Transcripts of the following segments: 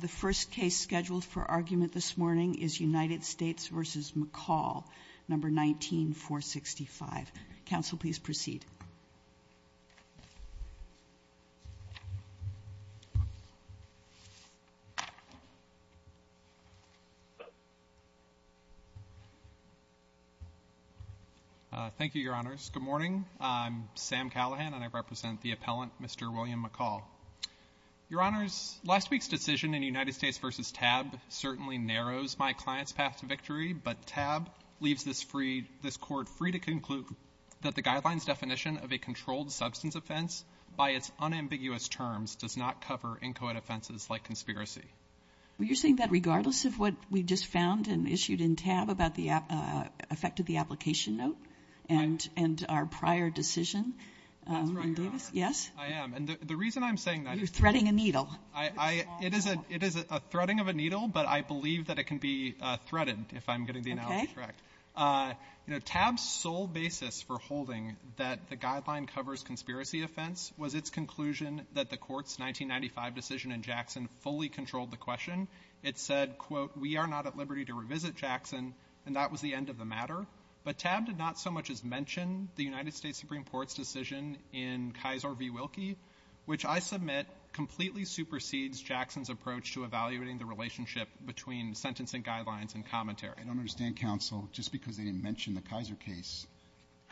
The first case scheduled for argument this morning is United States v. McCall, No. 19-465. Counsel, please proceed. Thank you, Your Honors. Good morning. I'm Sam Callahan, and I represent the appellant, Mr. William McCall. Your Honors, last week's decision in United States v. TAB certainly narrows my client's path to victory, but TAB leaves this Court free to conclude that the guideline's definition of a controlled substance offense by its unambiguous terms does not cover inchoate offenses like conspiracy. Well, you're saying that regardless of what we just found and issued in TAB about the effect of the application note and our prior decision? That's right, Your Honor. Yes? I am. And the reason I'm saying that is— You're threading a needle. It is a threading of a needle, but I believe that it can be threaded, if I'm getting the analogy correct. TAB's sole basis for holding that the guideline covers conspiracy offense was its conclusion that the Court's 1995 decision in Jackson fully controlled the question. It said, quote, we are not at liberty to revisit Jackson, and that was the end of the matter. But TAB did not so much as mention the United States Supreme Court's decision in Kisor v. Wilkie, which I submit completely supersedes Jackson's approach to evaluating the relationship between sentencing guidelines and commentary. I don't understand, counsel, just because they didn't mention the Kisor case.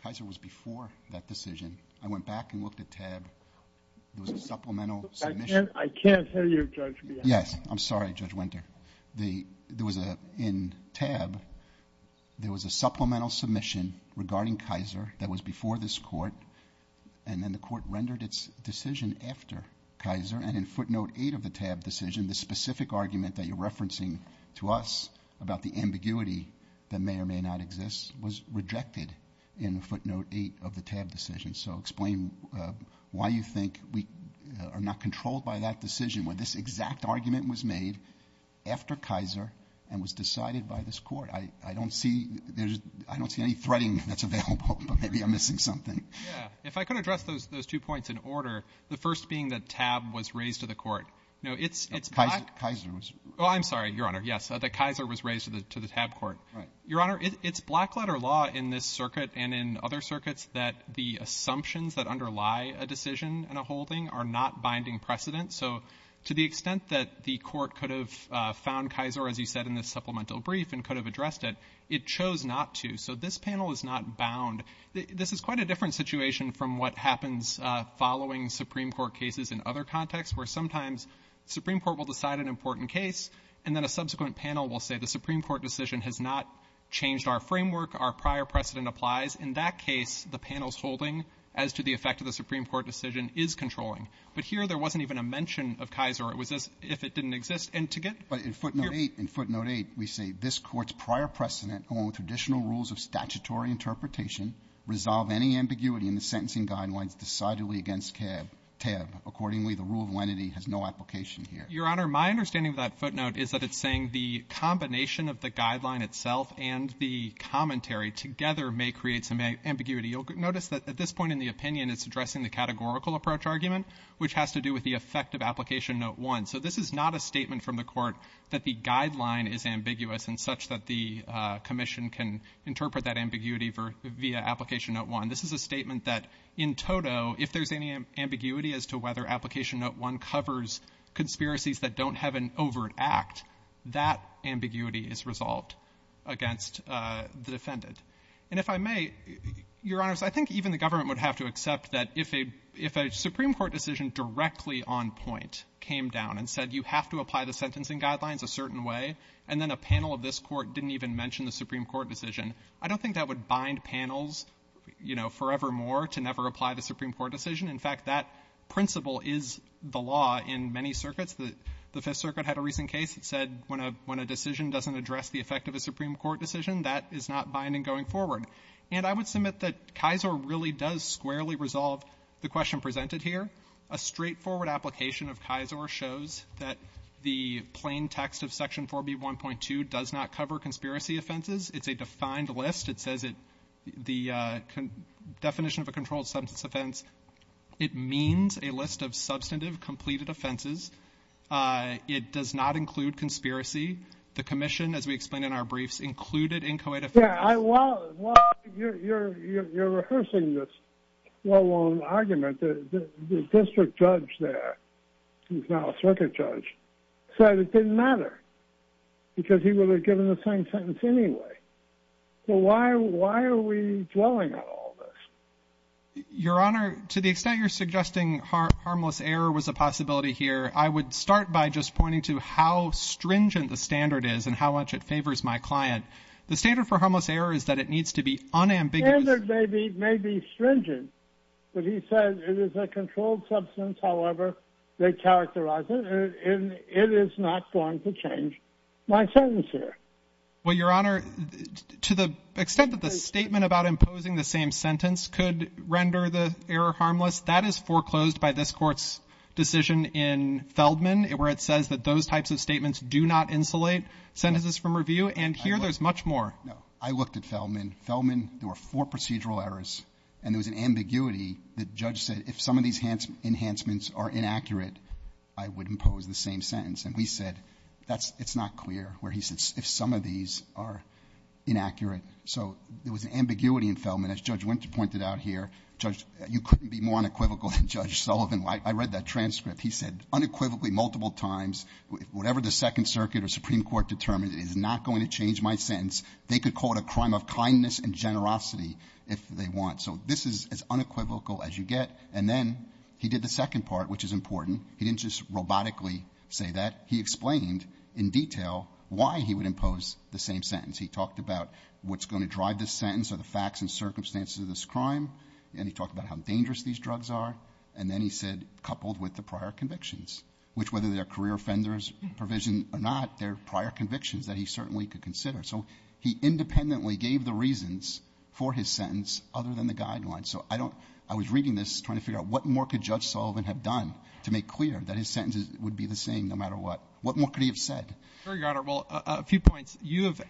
Kisor was before that decision. I went back and looked at TAB. There was a supplemental submission— I can't hear you, Judge Bielanski. Yes, I'm sorry, Judge Winter. There was a—in TAB, there was a supplemental submission regarding Kisor that was before this Court, and then the Court rendered its decision after Kisor, and in footnote 8 of the TAB decision, the specific argument that you're referencing to us about the ambiguity that may or may not exist was rejected in footnote 8 of the TAB decision. So explain why you think we are not controlled by that decision when this exact argument was made after Kisor and was decided by this Court. I don't see—I don't see any threading that's available, but maybe I'm missing something. Yeah. If I could address those two points in order, the first being that TAB was raised to the Court. No, it's— Kisor was— Oh, I'm sorry, Your Honor. Yes. The Kisor was raised to the TAB Court. Right. Your Honor, it's black-letter law in this circuit and in other circuits that the assumptions that underlie a decision and a holding are not binding precedent. So to the extent that the Court could have found Kisor, as you said, in this supplemental brief and could have addressed it, it chose not to. So this panel is not bound. This is quite a different situation from what happens following Supreme Court cases in other contexts where sometimes the Supreme Court will decide an important case and then a subsequent panel will say the Supreme Court decision has not changed our framework, our prior precedent applies. In that case, the panel's holding as to the effect of the Supreme Court decision is controlling. But here there wasn't even a mention of Kisor. It was just if it didn't exist. And to get— This Court's prior precedent, along with additional rules of statutory interpretation, resolve any ambiguity in the sentencing guidelines decidedly against TAB. Accordingly, the rule of lenity has no application here. Your Honor, my understanding of that footnote is that it's saying the combination of the guideline itself and the commentary together may create some ambiguity. You'll notice that at this point in the opinion it's addressing the categorical approach argument, which has to do with the effect of Application Note 1. So this is not a statement from the Court that the guideline is ambiguous in such that the commission can interpret that ambiguity for — via Application Note 1. This is a statement that in toto, if there's any ambiguity as to whether Application Note 1 covers conspiracies that don't have an overt act, that ambiguity is resolved against the defendant. And if I may, Your Honors, I think even the government would have to accept that if a Supreme Court decision directly on point came down and said you have to apply the sentencing guidelines a certain way, and then a panel of this Court didn't even mention the Supreme Court decision, I don't think that would bind panels, you know, forever more to never apply the Supreme Court decision. In fact, that principle is the law in many circuits. The Fifth Circuit had a recent case that said when a decision doesn't address the effect of a Supreme Court decision, that is not binding going forward. And I would submit that Kisor really does squarely resolve the question presented here. A straightforward application of Kisor shows that the plain text of Section 4B1.2 does not cover conspiracy offenses. It's a defined list. It says it — the definition of a controlled substance offense, it means a list of substantive completed offenses. It does not include conspiracy. The commission, as we explained in our briefs, included inchoate offenses. I — while you're rehearsing this well-worn argument, the district judge there, who's now a circuit judge, said it didn't matter because he would have given the same sentence anyway. So why are we dwelling on all this? Your Honor, to the extent you're suggesting harmless error was a possibility here, I would start by just pointing to how stringent the standard is and how much it favors my client. The standard for harmless error is that it needs to be unambiguous — The standard may be — may be stringent, but he said it is a controlled substance, however they characterize it, and it is not going to change my sentence here. Well, Your Honor, to the extent that the statement about imposing the same sentence could render the error harmless, that is foreclosed by this Court's decision in Feldman, where it says that those types of statements do not insulate sentences from review. And here there's much more. No. I looked at Feldman. Feldman — there were four procedural errors, and there was an ambiguity that Judge said if some of these enhancements are inaccurate, I would impose the same sentence. And we said that's — it's not clear where he said if some of these are inaccurate. So there was an ambiguity in Feldman. As Judge Winter pointed out here, Judge — you couldn't be more unequivocal than Judge Sullivan. I read that transcript. He said unequivocally multiple times, whatever the Second Circuit or Supreme Court determined is not going to change my sentence. They could call it a crime of kindness and generosity if they want. So this is as unequivocal as you get. And then he did the second part, which is important. He didn't just robotically say that. He explained in detail why he would impose the same sentence. He talked about what's going to drive this sentence or the facts and circumstances of this crime. And he talked about how dangerous these drugs are. And then he said, coupled with the prior convictions, which, whether they're that he certainly could consider. So he independently gave the reasons for his sentence other than the guidelines. So I don't — I was reading this trying to figure out what more could Judge Sullivan have done to make clear that his sentences would be the same no matter what. What more could he have said? ZUCKERBERG. Your Honor, well, a few points. You have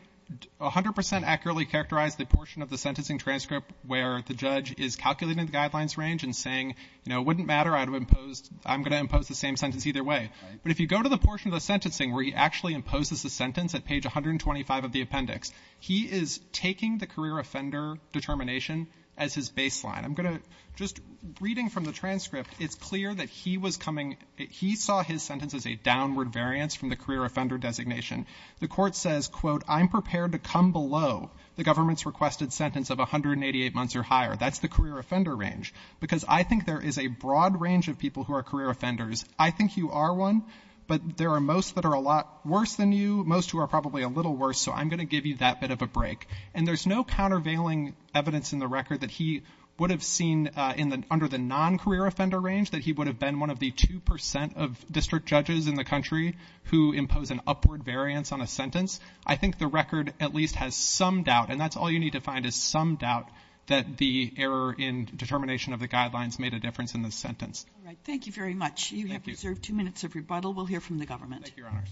100 percent accurately characterized the portion of the sentencing transcript where the judge is calculating the guidelines range and saying, you know, it wouldn't matter. I'd have imposed — I'm going to impose the same sentence either way. But if you go to the portion of the sentencing where he actually imposes the sentence at page 125 of the appendix, he is taking the career offender determination as his baseline. I'm going to — just reading from the transcript, it's clear that he was coming — he saw his sentence as a downward variance from the career offender designation. The court says, quote, I'm prepared to come below the government's requested sentence of 188 months or higher. That's the career offender range. Because I think there is a broad range of people who are career offenders. I think you are one. But there are most that are a lot worse than you, most who are probably a little worse. So I'm going to give you that bit of a break. And there's no countervailing evidence in the record that he would have seen in the — under the non-career offender range, that he would have been one of the 2 percent of district judges in the country who impose an upward variance on a sentence. I think the record at least has some doubt, and that's all you need to find, is some doubt that the error in determination of the guidelines made a difference in the sentence. All right. Thank you very much. You have reserved two minutes of rebuttal. We'll hear from the government. Thank you, Your Honor.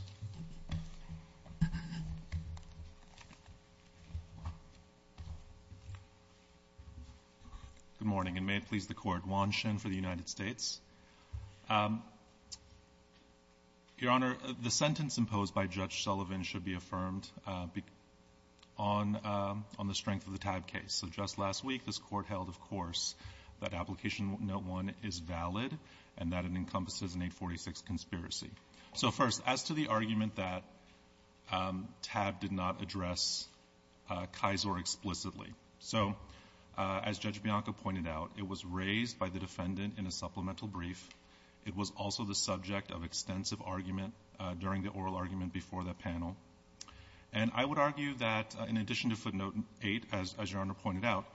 Good morning, and may it please the Court. Juan Shin for the United States. Your Honor, the sentence imposed by Judge Sullivan should be affirmed on the strength of the Taib case. So just last week, this Court held, of course, that Application Note 1 is valid and that it encompasses an 846 conspiracy. So first, as to the argument that Taib did not address Kisor explicitly. So as Judge Bianco pointed out, it was raised by the defendant in a supplemental brief. It was also the subject of extensive argument during the oral argument before the panel. And I would argue that in addition to footnote 8, as Your Honor pointed out,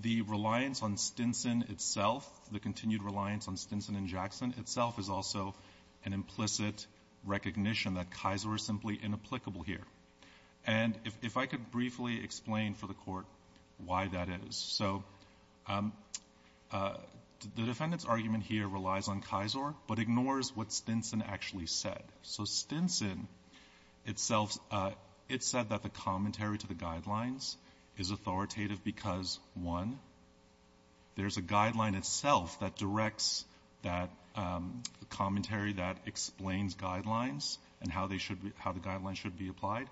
the reliance on Stinson itself, the continued reliance on Stinson and Jackson itself, is also an implicit recognition that Kisor is simply inapplicable here. And if I could briefly explain for the Court why that is. So the defendant's argument here relies on Kisor but ignores what Stinson actually said. So Stinson itself, it said that the commentary to the guidelines is authoritative because, one, there's a guideline itself that directs that commentary that explains guidelines and how they should be — how the guidelines should be applied.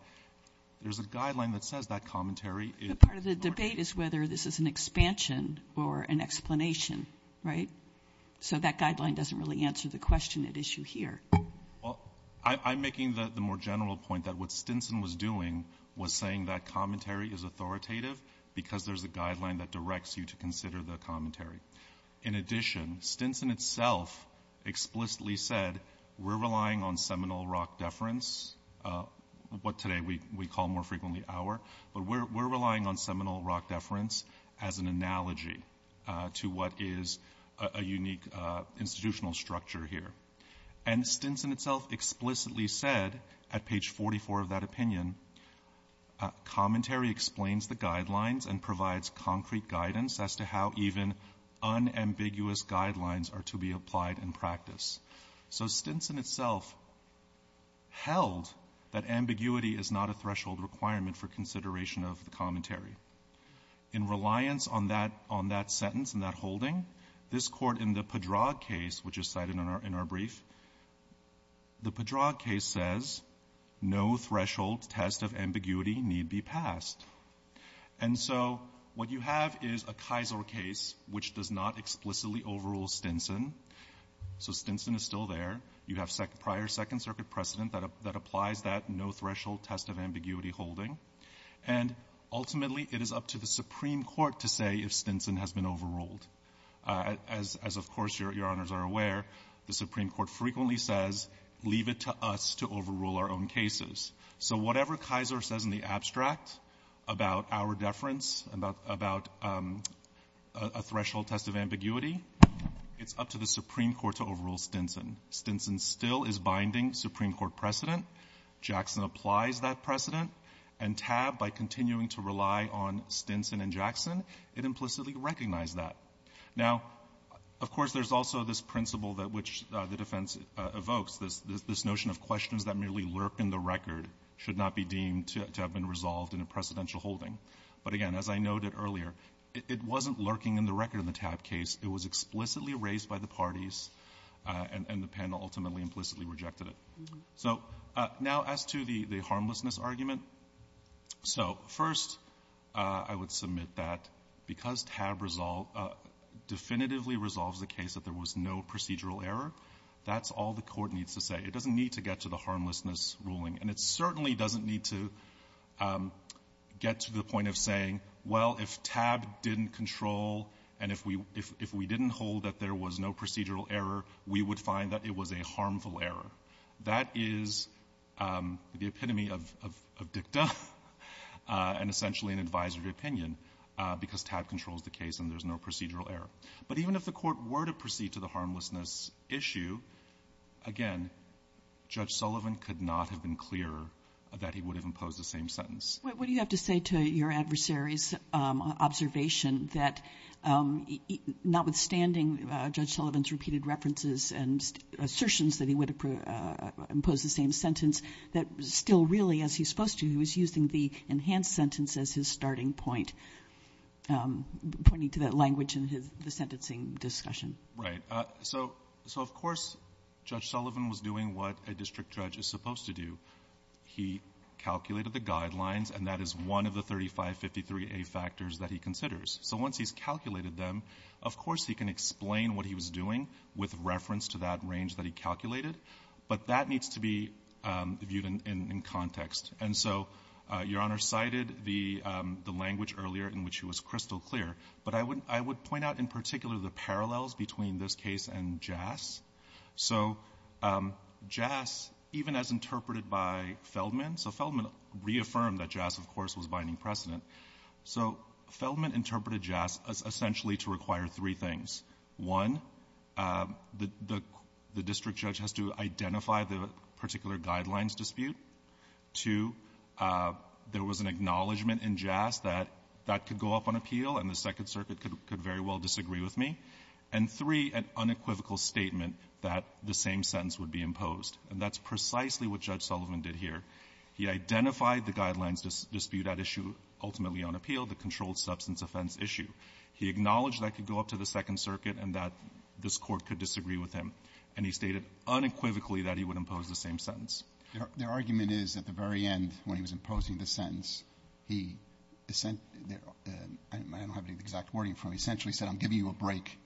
There's a guideline that says that commentary is — But part of the debate is whether this is an expansion or an explanation, right? So that guideline doesn't really answer the question at issue here. Well, I'm making the more general point that what Stinson was doing was saying that commentary is authoritative because there's a guideline that directs you to consider the commentary. In addition, Stinson itself explicitly said, we're relying on seminal rock deference, what today we call more frequently Auer, but we're relying on seminal rock deference as an analogy to what is a unique institutional structure here. And Stinson itself explicitly said at page 44 of that opinion, commentary explains the guidelines and provides concrete guidance as to how even unambiguous guidelines are to be applied in practice. So Stinson itself held that ambiguity is not a threshold requirement for consideration of the commentary. In reliance on that — on that sentence and that holding, this Court in the Padraig case, which is cited in our — in our brief, the Padraig case says no threshold test of ambiguity need be passed. And so what you have is a Kaiser case which does not explicitly overrule Stinson. So Stinson is still there. You have prior Second Circuit precedent that applies that no threshold test of ambiguity holding. And ultimately, it is up to the Supreme Court to say if Stinson has been overruled, as, of course, Your Honors are aware, the Supreme Court frequently says, leave it to us to overrule our own cases. So whatever Kaiser says in the abstract about Auer deference, about — about a threshold test of ambiguity, it's up to the Supreme Court to overrule Stinson. Stinson still is binding Supreme Court precedent. Jackson applies that precedent. And TAB, by continuing to rely on Stinson and Jackson, it implicitly recognized that. Now, of course, there's also this principle that which the defense evokes, this — this notion of questions that merely lurk in the record should not be deemed to have been resolved in a precedential holding. But again, as I noted earlier, it wasn't lurking in the record in the TAB case. It was explicitly raised by the parties, and the panel ultimately implicitly rejected it. So now as to the — the harmlessness argument, so first, I would submit that because TAB resolve — definitively resolves the case that there was no procedural error, that's all the court needs to say. It doesn't need to get to the harmlessness ruling. And it certainly doesn't need to get to the point of saying, well, if TAB didn't control, and if we — if we didn't hold that there was no procedural error, we would find that it was a harmful error. That is the epitome of — of dicta, and essentially an advisory opinion, because TAB controls the case and there's no procedural error. But even if the court were to proceed to the harmlessness issue, again, Judge Sullivan could not have been clearer that he would have imposed the same sentence. What do you have to say to your adversary's observation that notwithstanding Judge Sullivan's repeated references and assertions that he would have imposed the same sentence, that still really, as he's supposed to, he was using the enhanced sentence as his starting point, pointing to that language in his — the sentencing discussion? Right. So — so, of course, Judge Sullivan was doing what a district judge is supposed to do. He calculated the guidelines, and that is one of the 3553A factors that he considers. So once he's calculated them, of course he can explain what he was doing with reference to that range that he calculated. But that needs to be viewed in — in context. And so Your Honor cited the — the language earlier in which he was crystal clear. But I would — I would point out in particular the parallels between this case and JAS. So JAS, even as interpreted by Feldman — so Feldman reaffirmed that JAS, of course, was binding precedent. So Feldman interpreted JAS essentially to require three things. One, the — the district judge has to identify the particular guidelines dispute. Two, there was an acknowledgment in JAS that that could go up on appeal and the Second Circuit could — could very well disagree with me. And three, an unequivocal statement that the same sentence would be imposed. And that's precisely what Judge Sullivan did here. He identified the guidelines dispute at issue, ultimately on appeal, the controlled substance offense issue. He acknowledged that could go up to the Second Circuit and that this Court could disagree with him. And he stated unequivocally that he would impose the same sentence. Their argument is at the very end, when he was imposing the sentence, he — I don't have any exact wording for him. He essentially said, I'm giving you a break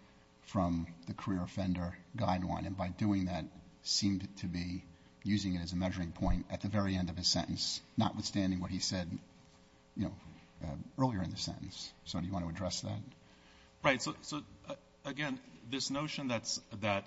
from the career offender guideline. And by doing that, seemed to be using it as a measuring point at the very end of his sentence, notwithstanding what he said, you know, earlier in the sentence. So do you want to address that? Right. So, again, this notion that's — that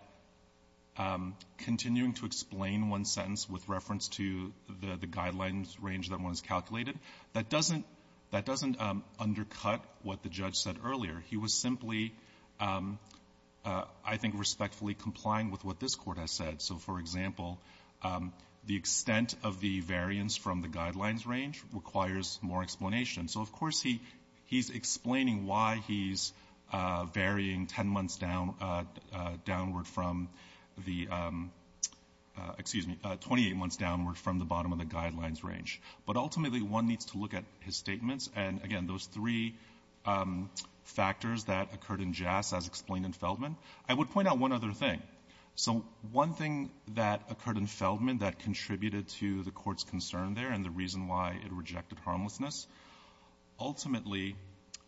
continuing to explain one sentence with reference to the guidelines range that one has calculated, that doesn't — that doesn't undercut what the judge said earlier. He was simply, I think, respectfully complying with what this Court has said. So, for example, the extent of the variance from the guidelines range requires more explanation. So, of course, he's explaining why he's varying 10 months downward from the — excuse me, 28 months downward from the bottom of the guidelines range. But ultimately, one needs to look at his statements and, again, those three factors that occurred in Jass as explained in Feldman. I would point out one other thing. So one thing that occurred in Feldman that contributed to the Court's concern there and the reason why it rejected harmlessness, ultimately,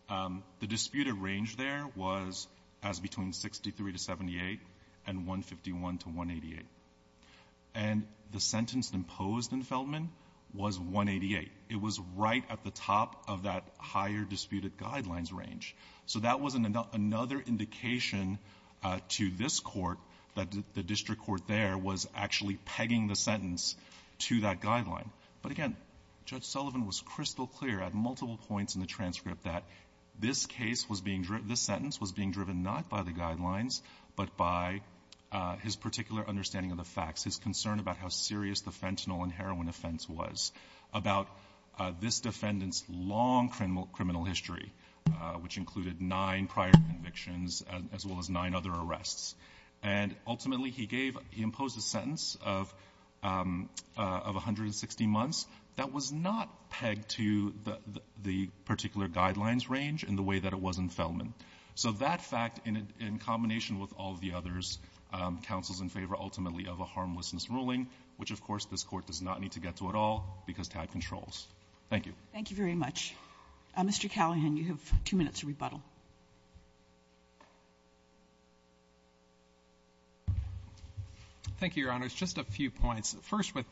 the disputed range there was as between 63 to 78 and 151 to 188. And the sentence imposed in Feldman was 188. It was right at the top of that higher disputed guidelines range. So that was another indication to this Court that the district court there was actually pegging the sentence to that guideline. But again, Judge Sullivan was crystal clear at multiple points in the transcript that this case was being — this sentence was being driven not by the guidelines, but by his particular understanding of the facts, his concern about how serious the fentanyl and heroin offense was, about this defendant's long criminal history, which included nine prior convictions as well as nine other arrests. And ultimately, he gave — he imposed a sentence of 160 months that was not pegged to the particular guidelines range in the way that it was in Feldman. So that fact, in combination with all of the others, counsels in favor ultimately of a harmlessness ruling, which, of course, this Court does not need to get to at all because Tad controls. Thank you. Thank you very much. Mr. Callahan, you have two minutes to rebuttal. Thank you, Your Honors. Just a few points. First, with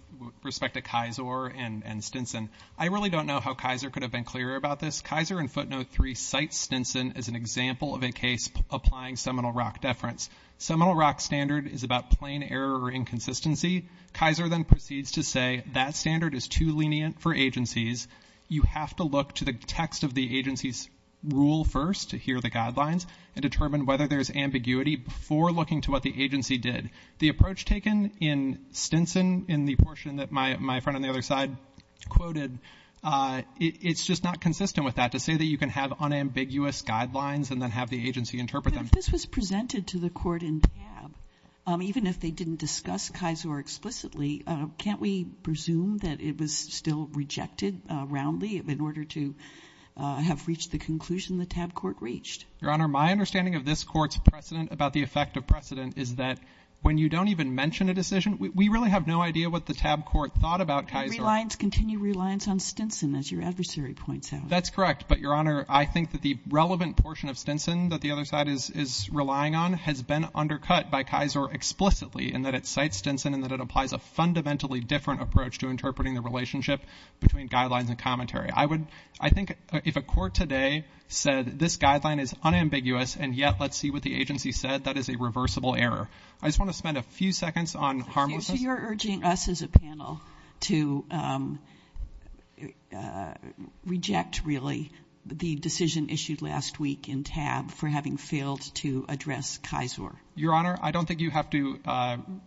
respect to Kisor and Stinson, I really don't know how Kisor could have been clearer about this. Kisor in footnote 3 cites Stinson as an example of a case applying seminal rock deference. Seminal rock standard is about plain error or inconsistency. Kisor then proceeds to say that standard is too lenient for agencies. You have to look to the text of the agency's rule first to hear the guidelines and determine whether there's ambiguity before looking to what the agency did. The approach taken in Stinson in the portion that my friend on the other side quoted, it's just not consistent with that, to say that you can have unambiguous guidelines and then have the agency interpret them. If this was presented to the court in TAB, even if they didn't discuss Kisor explicitly, can't we presume that it was still rejected roundly in order to have reached the conclusion the TAB court reached? Your Honor, my understanding of this court's precedent about the effect of precedent is that when you don't even mention a decision, we really have no idea what the TAB court thought about Kisor. Reliance, continue reliance on Stinson, as your adversary points out. That's correct, but Your Honor, I think that the relevant portion of Stinson that the other side is relying on has been undercut by Kisor explicitly in that it cites Stinson and that it applies a fundamentally different approach to interpreting the relationship between guidelines and commentary. I would, I think if a court today said this guideline is unambiguous and yet let's see what the agency said, that is a reversible error. I just want to spend a few seconds on harm. So you're urging us as a panel to reject really the decision issued last week in TAB for having failed to address Kisor. Your Honor, I don't think you have to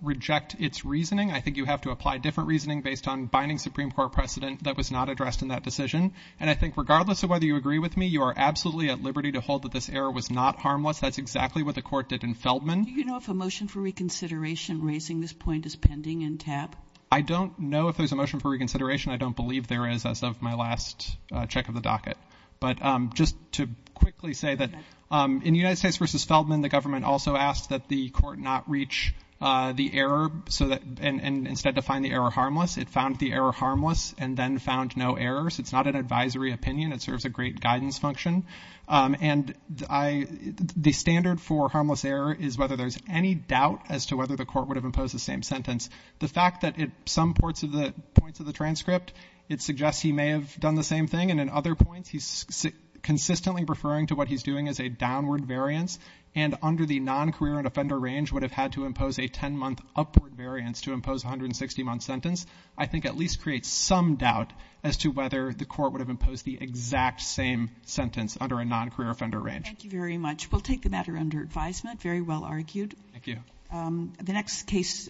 reject its reasoning. I think you have to apply different reasoning based on binding Supreme Court precedent that was not addressed in that decision. And I think regardless of whether you agree with me, you are absolutely at liberty to hold that this error was not harmless. That's exactly what the court did in Feldman. Do you know if a motion for reconsideration raising this point is pending in TAB? I don't know if there's a motion for reconsideration. I don't believe there is as of my last check of the docket. But just to quickly say that in United States versus Feldman, the government also asked that the court not reach the error so that, and instead to find the error harmless, it found the error harmless and then found no errors. It's not an advisory opinion. It serves a great guidance function. And I, the standard for harmless error is whether there's any doubt as to whether the court would have imposed the same sentence. The fact that in some parts of the points of the transcript, it suggests he may have done the same thing. And in other points, he's consistently referring to what he's doing as a downward variance. And under the non-career and offender range would have had to impose a 10-month upward variance to impose a 160-month sentence. I think at least creates some doubt as to whether the court would have imposed the exact same sentence under a non-career offender range. Thank you very much. We'll take the matter under advisement. Very well argued. Thank you. The next case.